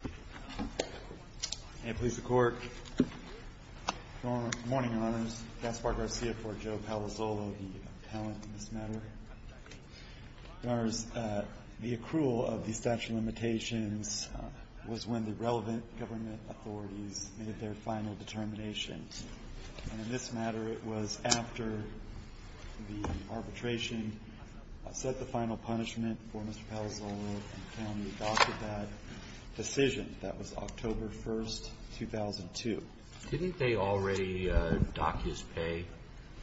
Good morning, Your Honors. Gaspar Garcia for Joe Palazzolo, the appellant in this matter. Your Honors, the accrual of the statute of limitations was when the relevant government authorities made their final determinations. And in this matter, it was after the arbitration set the final punishment for Mr. Palazzolo and the county adopted that decision. That was October 1, 2002. Didn't they already dock his pay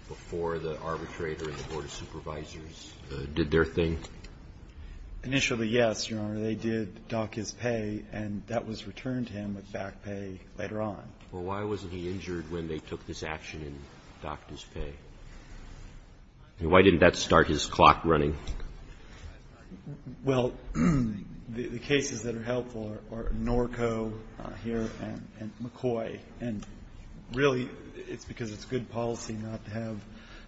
before the arbitrator and the Board of Supervisors did their thing? Initially, yes, Your Honor. They did dock his pay, and that was returned to him with back pay later on. Well, why wasn't he injured when they took this action and docked his pay? Why didn't that start his clock running? Well, the cases that are helpful are Norco here and McCoy. And really, it's because it's good policy not to have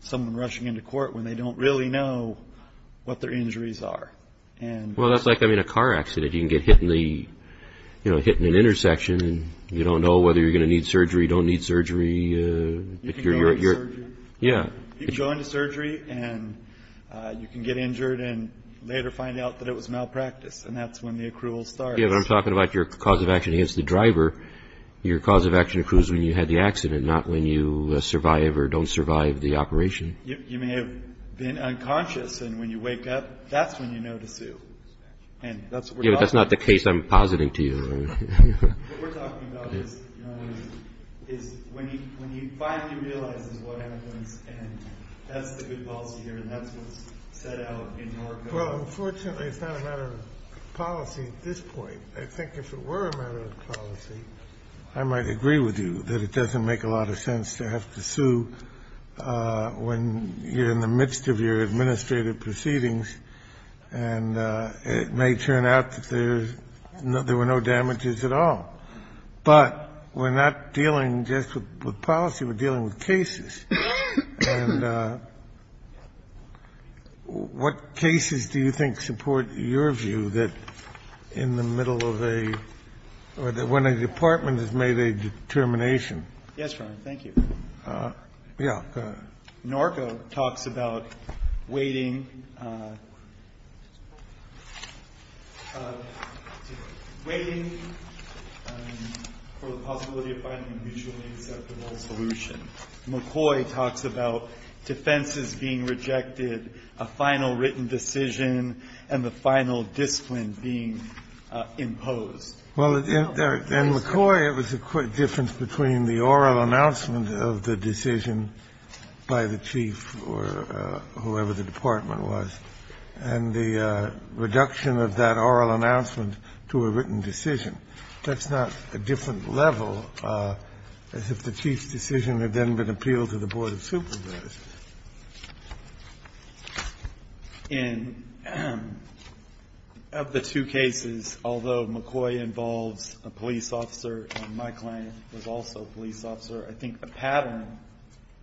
someone rushing into court when they don't really know what their injuries are. Well, that's like a car accident. You can get hit in an intersection and you don't know whether you're going to need surgery, don't need surgery. You can go into surgery and you can get injured and later find out that it was malpractice, and that's when the accrual starts. I'm talking about your cause of action against the driver. Your cause of action accrues when you had the accident, not when you survive or don't survive the operation. You may have been unconscious, and when you wake up, that's when you know to sue. And that's what we're talking about. Yeah, but that's not the case I'm positing to you. What we're talking about is when he finally realizes what happened and that's the good policy here and that's what's set out in Norco. Well, unfortunately, it's not a matter of policy at this point. I think if it were a matter of policy, I might agree with you that it doesn't make a lot of sense to have to sue when you're in the midst of your administrative proceedings. And it may turn out that there were no damages at all. But we're not dealing just with policy. We're dealing with cases. And what cases do you think support your view that in the middle of a or when a department has made a determination? Yes, Your Honor. Thank you. Yeah. Norco talks about waiting, waiting for the possibility of finding a mutually acceptable solution. McCoy talks about defenses being rejected, a final written decision, and the final discipline being imposed. Well, in McCoy, it was a quick difference between the oral announcement of the decision by the chief or whoever the department was and the reduction of that oral announcement to a written decision. That's not a different level as if the chief's decision had then been appealed to the board of supervisors. And of the two cases, although McCoy involves a police officer and my client was also a police officer, I think the pattern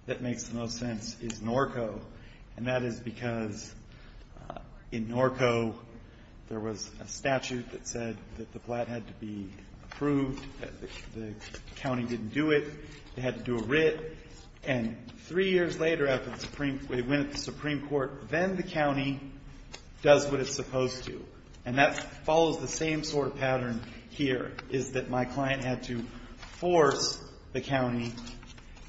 that makes the most sense is Norco, and that is because in Norco, there was a statute that said that the plat had to be approved, that the county didn't do it. They had to do a writ. And three years later, after they went to the Supreme Court, then the county does what it's supposed to. And that follows the same sort of pattern here, is that my client had to force the county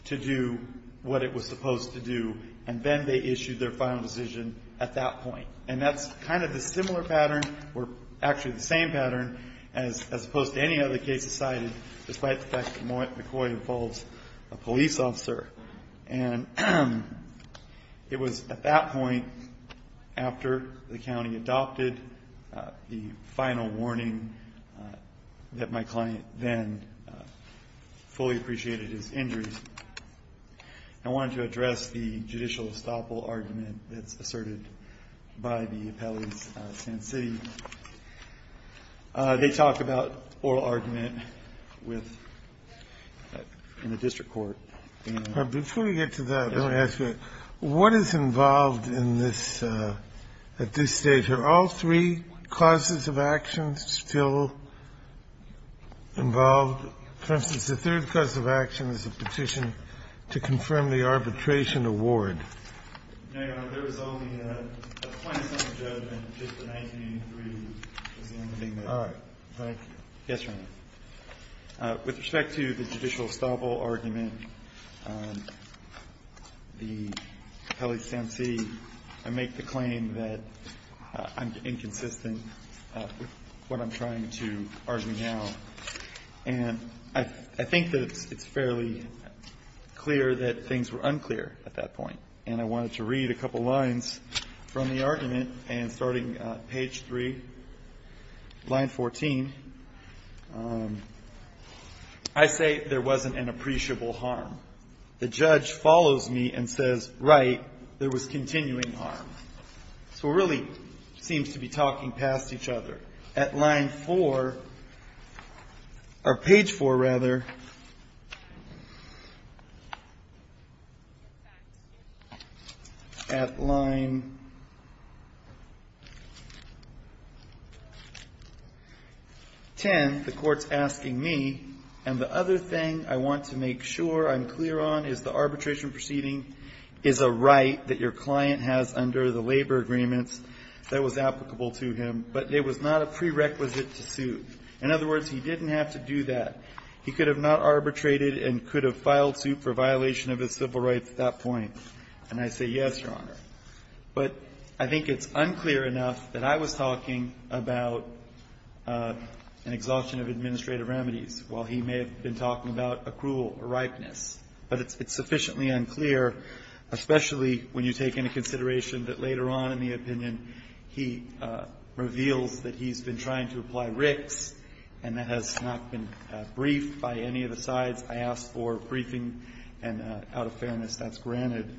to do what it was supposed to do, and then they issued their final decision at that point. And that's kind of a similar pattern or actually the same pattern as opposed to any other cases cited, despite the fact that McCoy involves a police officer. And it was at that point, after the county adopted the final warning that my client then fully appreciated his injuries, I wanted to address the judicial estoppel argument that's asserted by the appellate in Sand City. They talk about oral argument with the district court. Breyer, before we get to that, I want to ask you, what is involved in this at this stage? Are all three causes of action still involved? For instance, the third cause of action is a petition to confirm the arbitration award. No, Your Honor. There was only a 20-second judgment in 1983. All right. Thank you. Yes, Your Honor. With respect to the judicial estoppel argument, the appellate in Sand City, I make the claim that I'm inconsistent with what I'm trying to argue now. And I think that it's fairly clear that things were unclear at that point. And I wanted to read a couple lines from the argument. And starting page 3, line 14, I say there wasn't an appreciable harm. The judge follows me and says, right, there was continuing harm. So it really seems to be talking past each other. At line 4, or page 4, rather, at line 10, the court's asking me. And the other thing I want to make sure I'm clear on is the arbitration proceeding is a right that your client has under the labor agreements that was applicable to him. But there was not a prerequisite to sue. In other words, he didn't have to do that. He could have not arbitrated and could have filed suit for violation of his civil rights at that point. And I say yes, Your Honor. But I think it's unclear enough that I was talking about an exhaustion of administrative remedies, while he may have been talking about accrual or ripeness. But it's sufficiently unclear, especially when you take into consideration that later on in the opinion, he reveals that he's been trying to apply Ricks and that has not been briefed by any of the sides. I asked for a briefing, and out of fairness, that's granted.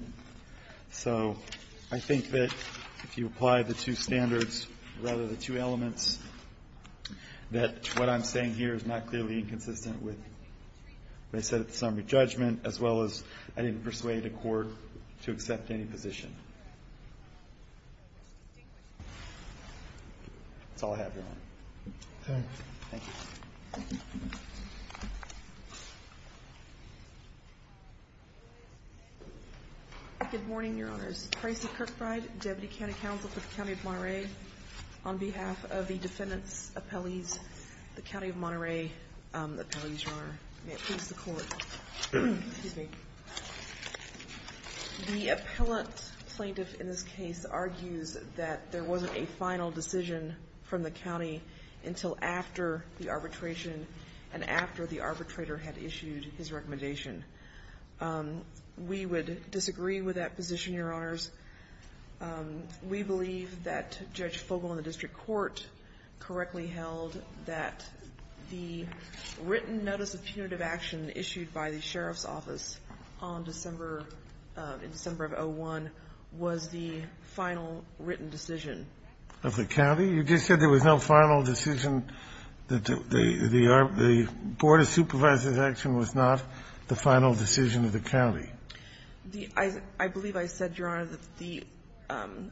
So I think that if you apply the two standards, rather the two elements, that what I'm saying here is not clearly inconsistent with what I said at the summary judgment, as well as I didn't persuade a court to accept any position. That's all I have, Your Honor. Thank you. Thank you. Good morning, Your Honors. Tracy Kirkbride, Deputy County Counsel for the County of Monterey. On behalf of the defendants' appellees, the County of Monterey appellees, Your Honor. May it please the Court. Excuse me. The appellant plaintiff in this case argues that there wasn't a final decision from the county until after the arbitration and after the arbitrator had issued his recommendation. We would disagree with that position, Your Honors. We believe that Judge Fogle in the district court correctly held that the written notice of punitive action issued by the sheriff's office on December, in December of 2001, was the final written decision. Of the county? You just said there was no final decision. The Board of Supervisors' action was not the final decision of the county. I believe I said, Your Honor, that the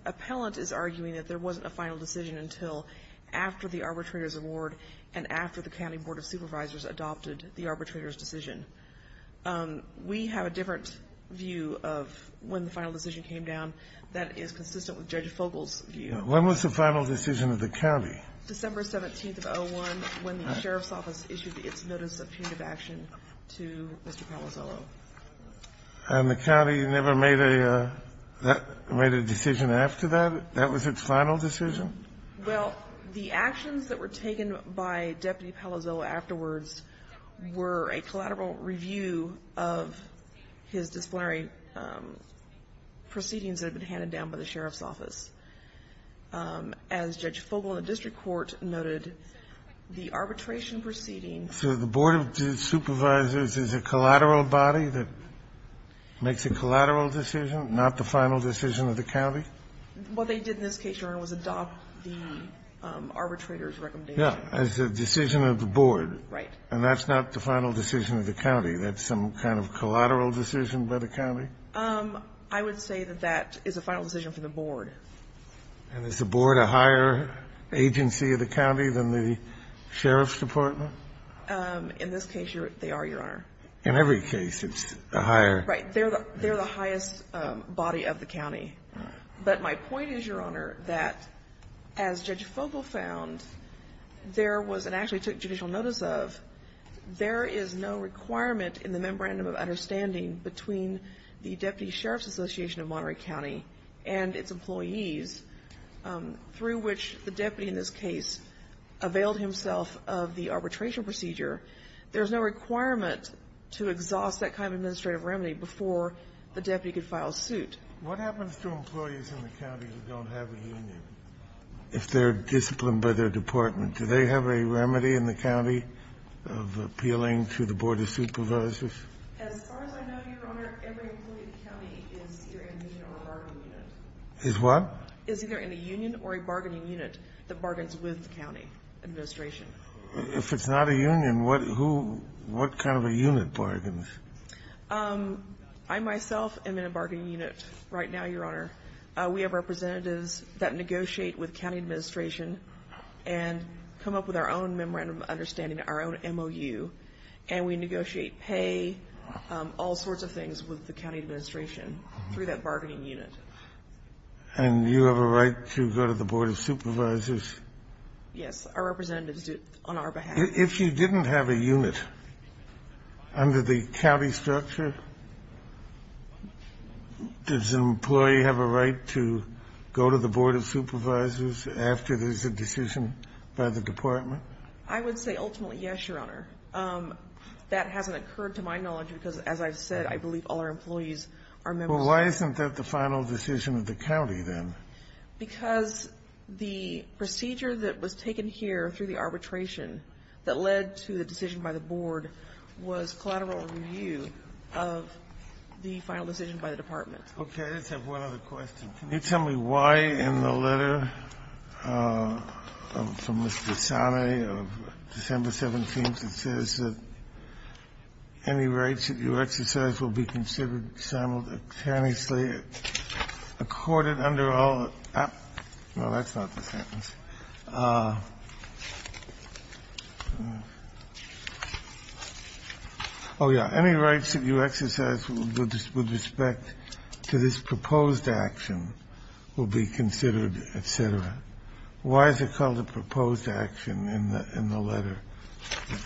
appellant is arguing that there wasn't a final decision until after the arbitrator's award and after the county Board of Supervisors adopted the arbitrator's decision. We have a different view of when the final decision came down that is consistent with Judge Fogle's view. When was the final decision of the county? December 17th of 2001, when the sheriff's office issued its notice of punitive action to Mr. Palazzolo. And the county never made a decision after that? That was its final decision? Well, the actions that were taken by Deputy Palazzolo afterwards were a collateral review of his disciplinary proceedings that had been handed down by the sheriff's office. As Judge Fogle in the district court noted, the arbitration proceedings ---- So the Board of Supervisors is a collateral body that makes a collateral decision, not the final decision of the county? What they did in this case, Your Honor, was adopt the arbitrator's recommendation. Yeah. As a decision of the board. Right. And that's not the final decision of the county. That's some kind of collateral decision by the county? I would say that that is a final decision for the board. And is the board a higher agency of the county than the sheriff's department? In this case, they are, Your Honor. In every case, it's a higher ---- They're the highest body of the county. But my point is, Your Honor, that as Judge Fogle found, there was an action he took judicial notice of, there is no requirement in the Memorandum of Understanding between the Deputy Sheriff's Association of Monterey County and its employees through which the deputy in this case availed himself of the arbitration procedure. There's no requirement to exhaust that kind of administrative remedy before the deputy could file a suit. What happens to employees in the county who don't have a union if they're disciplined by their department? Do they have a remedy in the county of appealing to the board of supervisors? As far as I know, Your Honor, every employee in the county is either in a union or a bargaining unit. Is what? Is either in a union or a bargaining unit that bargains with the county administration. If it's not a union, what kind of a unit bargains? I myself am in a bargaining unit right now, Your Honor. We have representatives that negotiate with county administration and come up with our own Memorandum of Understanding, our own MOU. And we negotiate pay, all sorts of things with the county administration through that bargaining unit. And you have a right to go to the board of supervisors? Yes. Our representatives do it on our behalf. If you didn't have a unit under the county structure, does an employee have a right to go to the board of supervisors after there's a decision by the department? I would say ultimately yes, Your Honor. That hasn't occurred to my knowledge because, as I've said, I believe all our employees are members of the board. Well, why isn't that the final decision of the county then? Because the procedure that was taken here through the arbitration that led to the decision by the board was collateral review of the final decision by the department. Okay. I just have one other question. Can you tell me why in the letter from Mr. Sane of December 17th it says that any rights that you exercise will be considered simultaneously accorded under all the actual Well, that's not the sentence. Oh, yeah. Any rights that you exercise with respect to this proposed action will be considered, et cetera. Why is it called a proposed action in the letter that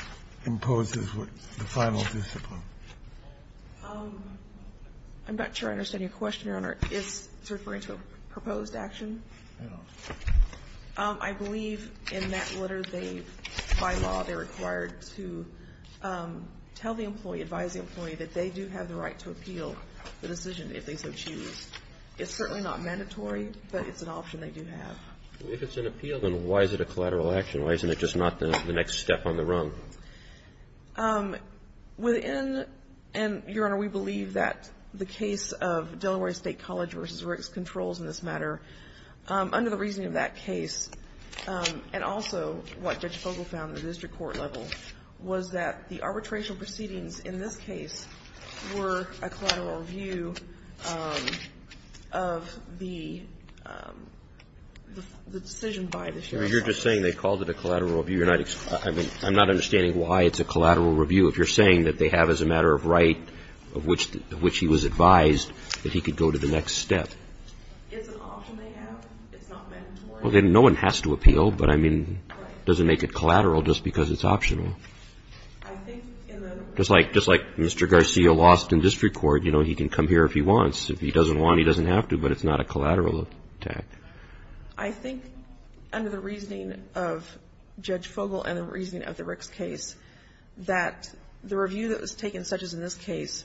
imposes the final discipline? I'm not sure I understand your question, Your Honor. Is it referring to a proposed action? No. I believe in that letter they, by law, they're required to tell the employee, advise the employee that they do have the right to appeal the decision if they so choose. It's certainly not mandatory, but it's an option they do have. If it's an appeal, then why is it a collateral action? Why isn't it just not the next step on the rung? Within, and, Your Honor, we believe that the case of Delaware State College v. Ricks controls in this matter. Under the reasoning of that case, and also what Judge Fogel found in the district court level, was that the arbitration proceedings in this case were a collateral review of the decision by the sheriff's office. You're just saying they called it a collateral review. I'm not understanding why it's a collateral review if you're saying that they have, as a matter of right, of which he was advised that he could go to the next step. It's an option they have. It's not mandatory. No one has to appeal, but, I mean, it doesn't make it collateral just because it's optional. I think in the... Just like Mr. Garcia lost in district court, you know, he can come here if he wants. If he doesn't want, he doesn't have to, but it's not a collateral attack. I think, under the reasoning of Judge Fogel and the reasoning of the Ricks case, that the review that was taken, such as in this case,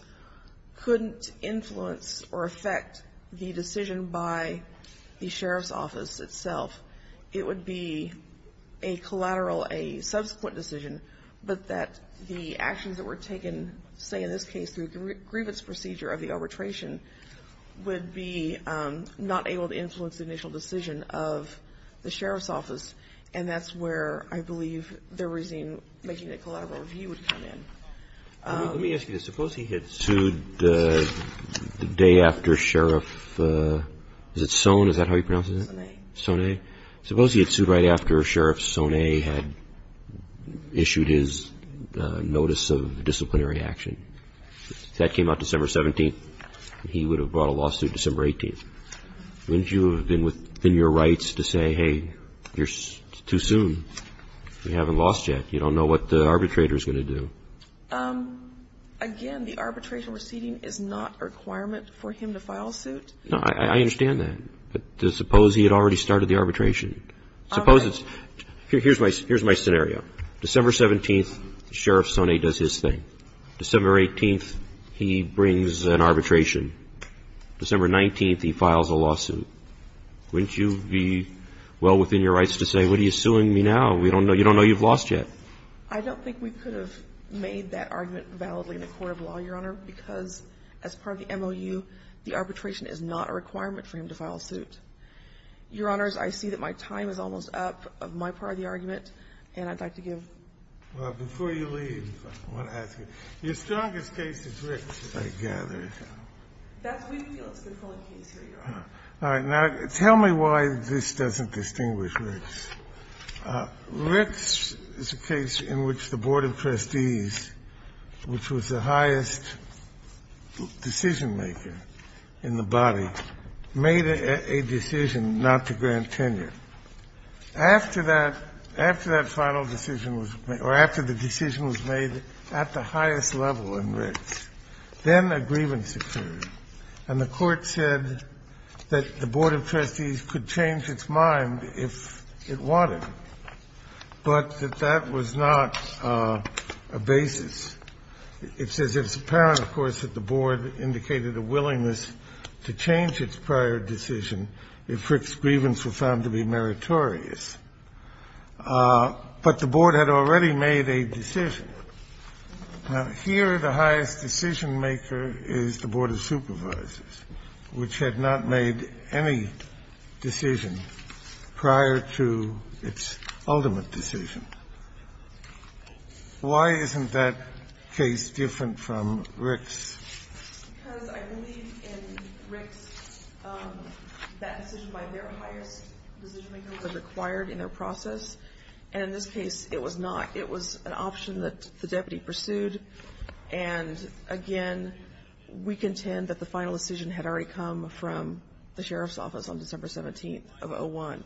couldn't influence or affect the decision by the sheriff's office itself. It would be a collateral, a subsequent decision, but that the actions that were taken, say, in this case through a grievance procedure of the arbitration, would be not able to influence the initial decision of the sheriff's office, and that's where I believe the reasoning making a collateral review would come in. Let me ask you this. Suppose he had sued the day after Sheriff, is it Soane? Is that how he pronounces it? Soane. Soane. Suppose he had sued right after Sheriff Soane had issued his notice of disciplinary action. If that came out December 17th, he would have brought a lawsuit December 18th. Wouldn't you have been within your rights to say, hey, it's too soon? We haven't lost yet. You don't know what the arbitrator is going to do. Again, the arbitration proceeding is not a requirement for him to file a suit. No, I understand that. But suppose he had already started the arbitration. Suppose it's – here's my scenario. December 17th, Sheriff Soane does his thing. December 18th, he brings an arbitration. December 19th, he files a lawsuit. Wouldn't you be well within your rights to say, what are you suing me now? We don't know – you don't know you've lost yet. I don't think we could have made that argument validly in a court of law, Your Honor, because as part of the MOU, the arbitration is not a requirement for him to file a suit. Your Honors, I see that my time is almost up on my part of the argument, and I'd like to give – Well, before you leave, I want to ask you. Your strongest case is Ricks, I gather. That's Winfield's controlling case, Your Honor. All right. Now, tell me why this doesn't distinguish Ricks. Ricks is a case in which the board of trustees, which was the highest decision-maker in the body, made a decision not to grant tenure. After that final decision was – or after the decision was made at the highest level in Ricks, then a grievance occurred, and the court said that the board of trustees could change its mind if it wanted, but that that was not a basis. It says it's apparent, of course, that the board indicated a willingness to change its prior decision if Rick's grievance were found to be meritorious. But the board had already made a decision. Now, here the highest decision-maker is the board of supervisors, which had not made any decision prior to its ultimate decision. Why isn't that case different from Ricks? Because I believe in Ricks that decision by their highest decision-maker was acquired in their process, and in this case it was not. It was an option that the deputy pursued, and again, we contend that the final decision had already come from the sheriff's office on December 17th of 2001.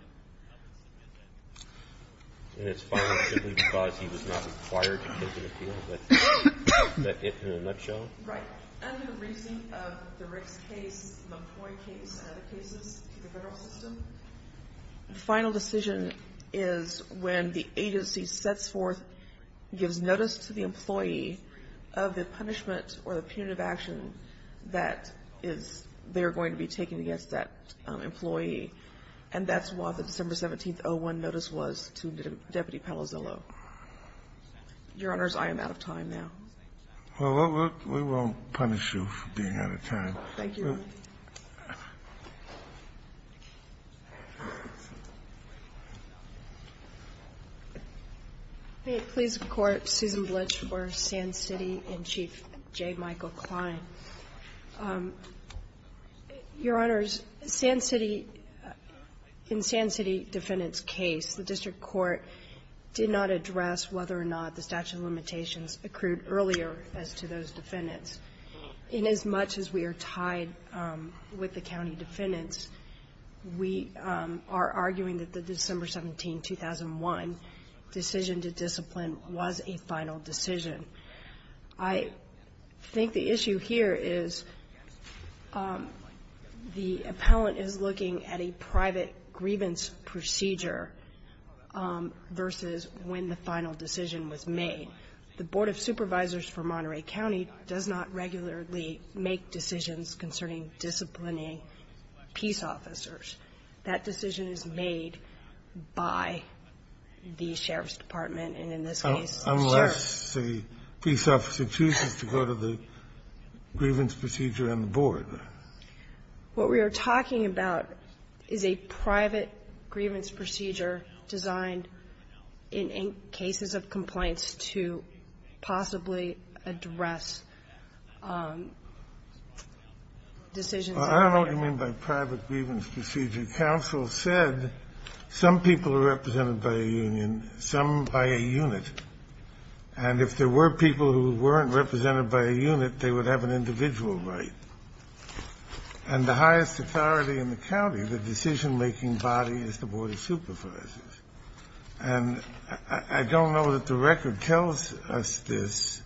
And it's fine simply because he was not required to take an appeal? Is that it in a nutshell? Right. Under the reason of the Ricks case, the McCoy case, and other cases to the Federal system, the final decision is when the agency sets forth, gives notice to the employee of the punishment or the punitive action that is they are going to be taking against that employee, and that's what the December 17th, 2001 notice was to Deputy Palazzolo. Your Honors, I am out of time now. Well, we won't punish you for being out of time. Thank you, Your Honor. May it please the Court, Susan Blitch for Sand City and Chief J. Michael Klein. Your Honors, Sand City, in Sand City Defendant's case, the district court did not address whether or not the statute of limitations accrued earlier as to those defendants. Inasmuch as we are tied with the county defendants, we are arguing that the December 17, 2001 decision to discipline was a final decision. I think the issue here is the appellant is looking at a private grievance procedure versus when the final decision was made. The Board of Supervisors for Monterey County does not regularly make decisions concerning disciplining peace officers. That decision is made by the sheriff's department, and in this case, the sheriff. Unless the peace officer chooses to go to the grievance procedure on the board. What we are talking about is a private grievance procedure designed in cases of complaints to possibly address decisions. Well, I don't know what you mean by private grievance procedure. Counsel said some people are represented by a union, some by a unit. And if there were people who weren't represented by a unit, they would have an individual right. And the highest authority in the county, the decision-making body, is the Board of Supervisors. And I don't know that the record tells us this,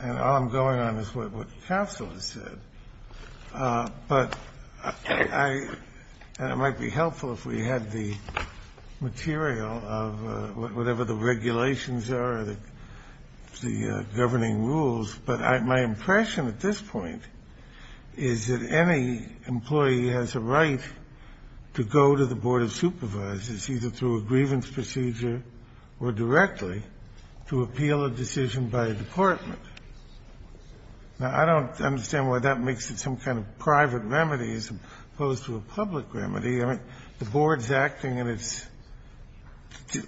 and all I'm going on is what counsel has said. But I – and it might be helpful if we had the material of whatever the regulations are, the governing rules. But my impression at this point is that any employee has a right to go to the Board of Supervisors, either through a grievance procedure or directly, to appeal a decision by a department. Now, I don't understand why that makes it some kind of private remedy as opposed to a public remedy. I mean, the Board's acting in its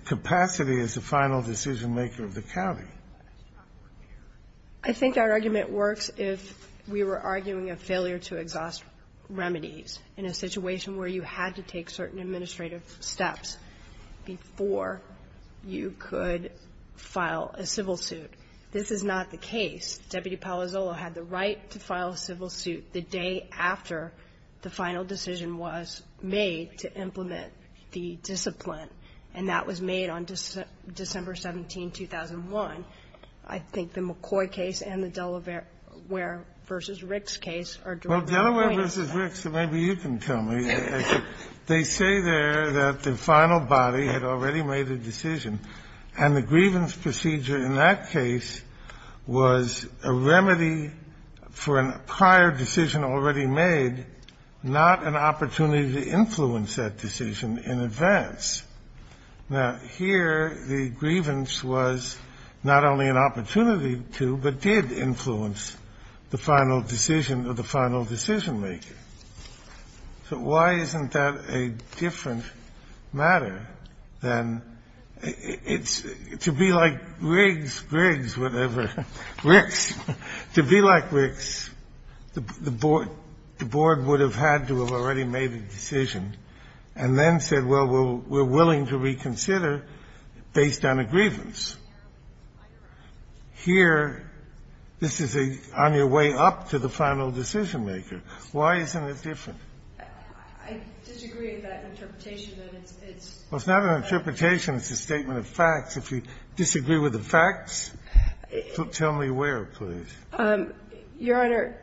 capacity as the final decision-maker of the county. I think our argument works if we were arguing a failure to exhaust remedies in a situation where you had to take certain administrative steps before you could file a civil suit. This is not the case. Deputy Palazzolo had the right to file a civil suit the day after the final decision was made to implement the discipline. And that was made on December 17, 2001. I think the McCoy case and the Delaware v. Ricks case are directly poignant. Well, Delaware v. Ricks, maybe you can tell me. They say there that the final body had already made a decision, and the grievance procedure in that case was a remedy for an prior decision already made, not an opportunity to influence that decision in advance. Now, here the grievance was not only an opportunity to, but did influence the final decision of the final decision-maker. So why isn't that a different matter than to be like Riggs, Griggs, whatever, Ricks, to be like Ricks, the Board would have had to have already made a decision and then said, well, we're willing to reconsider based on a grievance. Here, this is on your way up to the final decision-maker. Why isn't it different? I disagree with that interpretation. It's not an interpretation. It's a statement of facts. If you disagree with the facts, tell me where, please. Your Honor,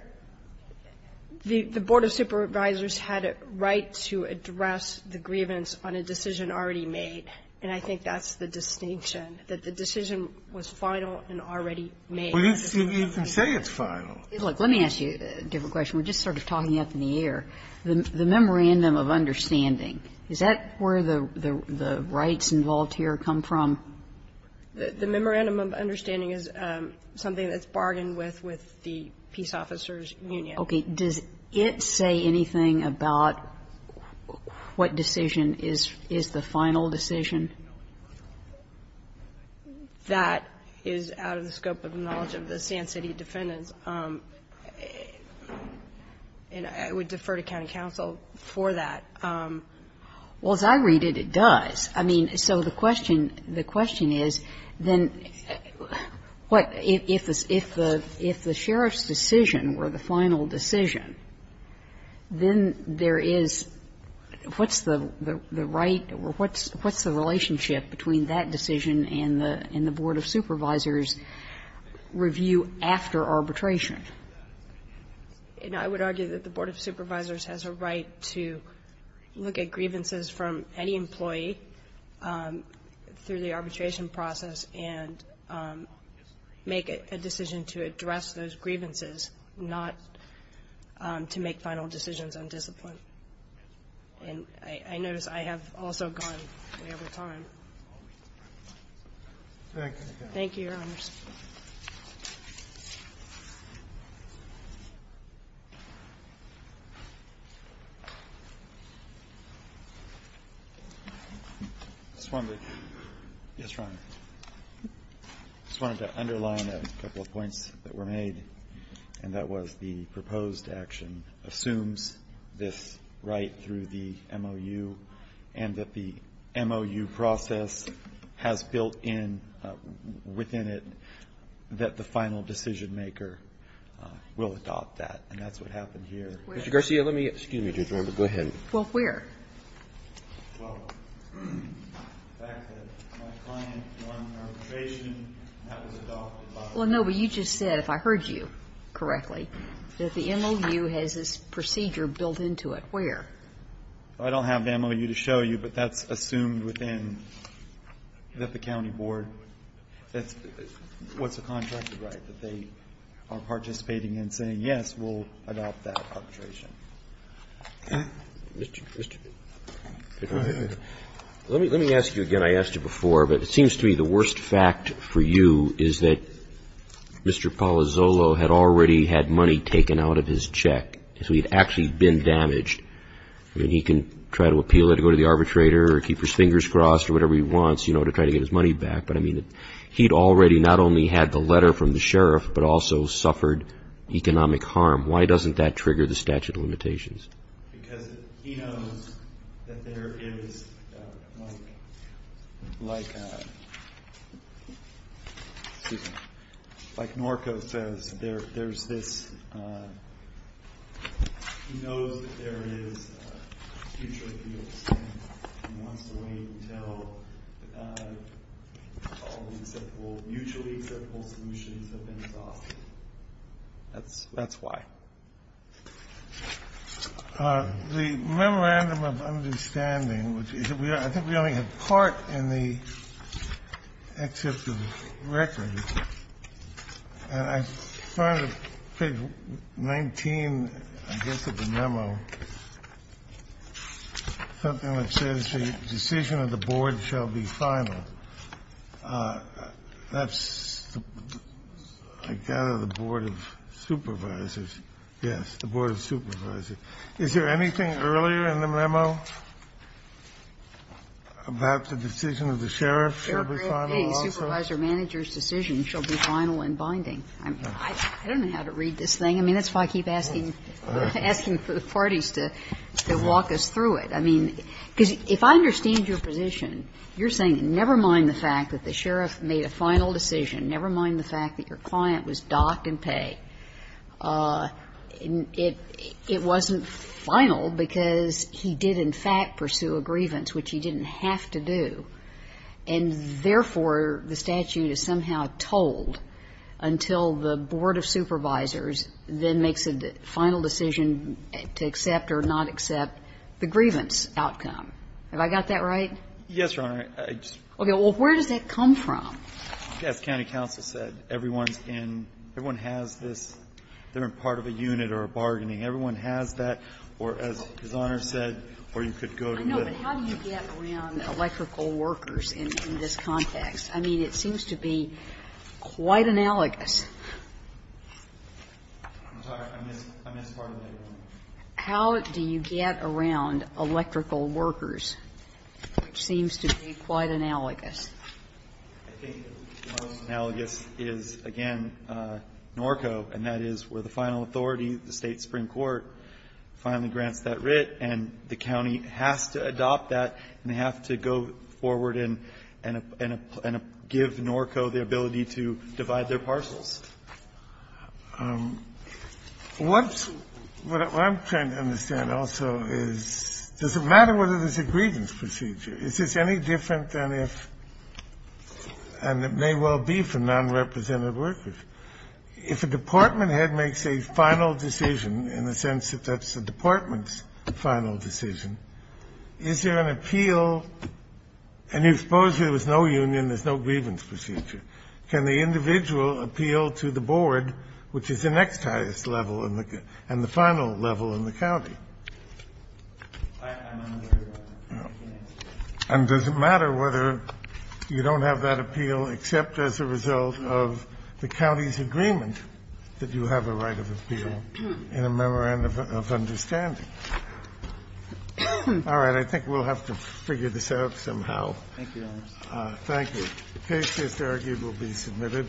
the Board of Supervisors had a right to address the grievance on a decision already made, and I think that's the distinction, that the decision was final and already made. Well, you can say it's final. Let me ask you a different question. We're just sort of talking up in the air. The memorandum of understanding, is that where the rights involved here come from? The memorandum of understanding is something that's bargained with with the Peace Officers Union. Okay. Does it say anything about what decision is the final decision? That is out of the scope of the knowledge of the Sand City defendants. And I would defer to county counsel for that. Well, as I read it, it does. I mean, so the question, the question is, then what, if the sheriff's decision were the final decision, then there is, what's the right or what's the relationship between that decision and the Board of Supervisors' review after arbitration? I would argue that the Board of Supervisors has a right to look at grievances from any employee through the arbitration process and make a decision to address those grievances, not to make final decisions undisciplined. And I notice I have also gone way over time. Thank you. Thank you, Your Honors. I just wanted to underline a couple of points that were made, and that was the proposed action assumes this right through the MOU, and that the MOU process is a process has built in, within it, that the final decisionmaker will adopt that. And that's what happened here. Mr. Garcia, let me ask you. Well, where? Well, the fact that my client won arbitration and that was adopted by the board. Well, no, but you just said, if I heard you correctly, that the MOU has this procedure built into it. Well, I don't have the MOU to show you, but that's assumed within the county board. That's what's a contracted right, that they are participating in saying, yes, we'll adopt that arbitration. Let me ask you again. I asked you before, but it seems to me the worst fact for you is that Mr. Palazzolo had already had money taken out of his check. So he'd actually been damaged. I mean, he can try to appeal it and go to the arbitrator or keep his fingers crossed or whatever he wants, you know, to try to get his money back. But I mean, he'd already not only had the letter from the sheriff, but also suffered economic harm. Why doesn't that trigger the statute of limitations? Because he knows that there is, like Norco says, there's this, he knows that there is a future appeal and wants to wait until all the mutually acceptable solutions have been resolved. That's why. The memorandum of understanding, which is, I think we only have part in the except of the record. And I found page 19, I guess, of the memo, something that says the decision of the board shall be final. That's, I gather, the Board of Supervisors. Yes, the Board of Supervisors. Is there anything earlier in the memo about the decision of the sheriff shall be final also? A supervisor manager's decision shall be final and binding. I don't know how to read this thing. I mean, that's why I keep asking for the parties to walk us through it. I mean, because if I understand your position, you're saying never mind the fact that the sheriff made a final decision, never mind the fact that your client was docked and pay. It wasn't final because he did in fact pursue a grievance, which he didn't have to do. And therefore, the statute is somehow told until the Board of Supervisors then makes a final decision to accept or not accept the grievance outcome. Have I got that right? Yes, Your Honor. Okay. Well, where does that come from? As county counsel said, everyone's in, everyone has this, they're in part of a unit or a bargaining. Everyone has that, or as His Honor said, or you could go to the. I know, but how do you get around electrical workers in this context? I mean, it seems to be quite analogous. I'm sorry. I missed part of that. How do you get around electrical workers, which seems to be quite analogous? I think the most analogous is, again, Norco, and that is where the final authority, the State supreme court, finally grants that writ, and the county has to adopt that and have to go forward and give Norco the ability to divide their parcels. What I'm trying to understand also is, does it matter whether there's a grievance procedure? Is this any different than if, and it may well be for nonrepresentative workers, if a department head makes a final decision, in the sense that that's a department's final decision, is there an appeal? And you suppose there was no union, there's no grievance procedure. Can the individual appeal to the board, which is the next highest level and the final level in the county? And does it matter whether you don't have that appeal except as a result of the county's in a memorandum of understanding? All right. I think we'll have to figure this out somehow. Thank you, Your Honor. Thank you. The case is argued. It will be submitted.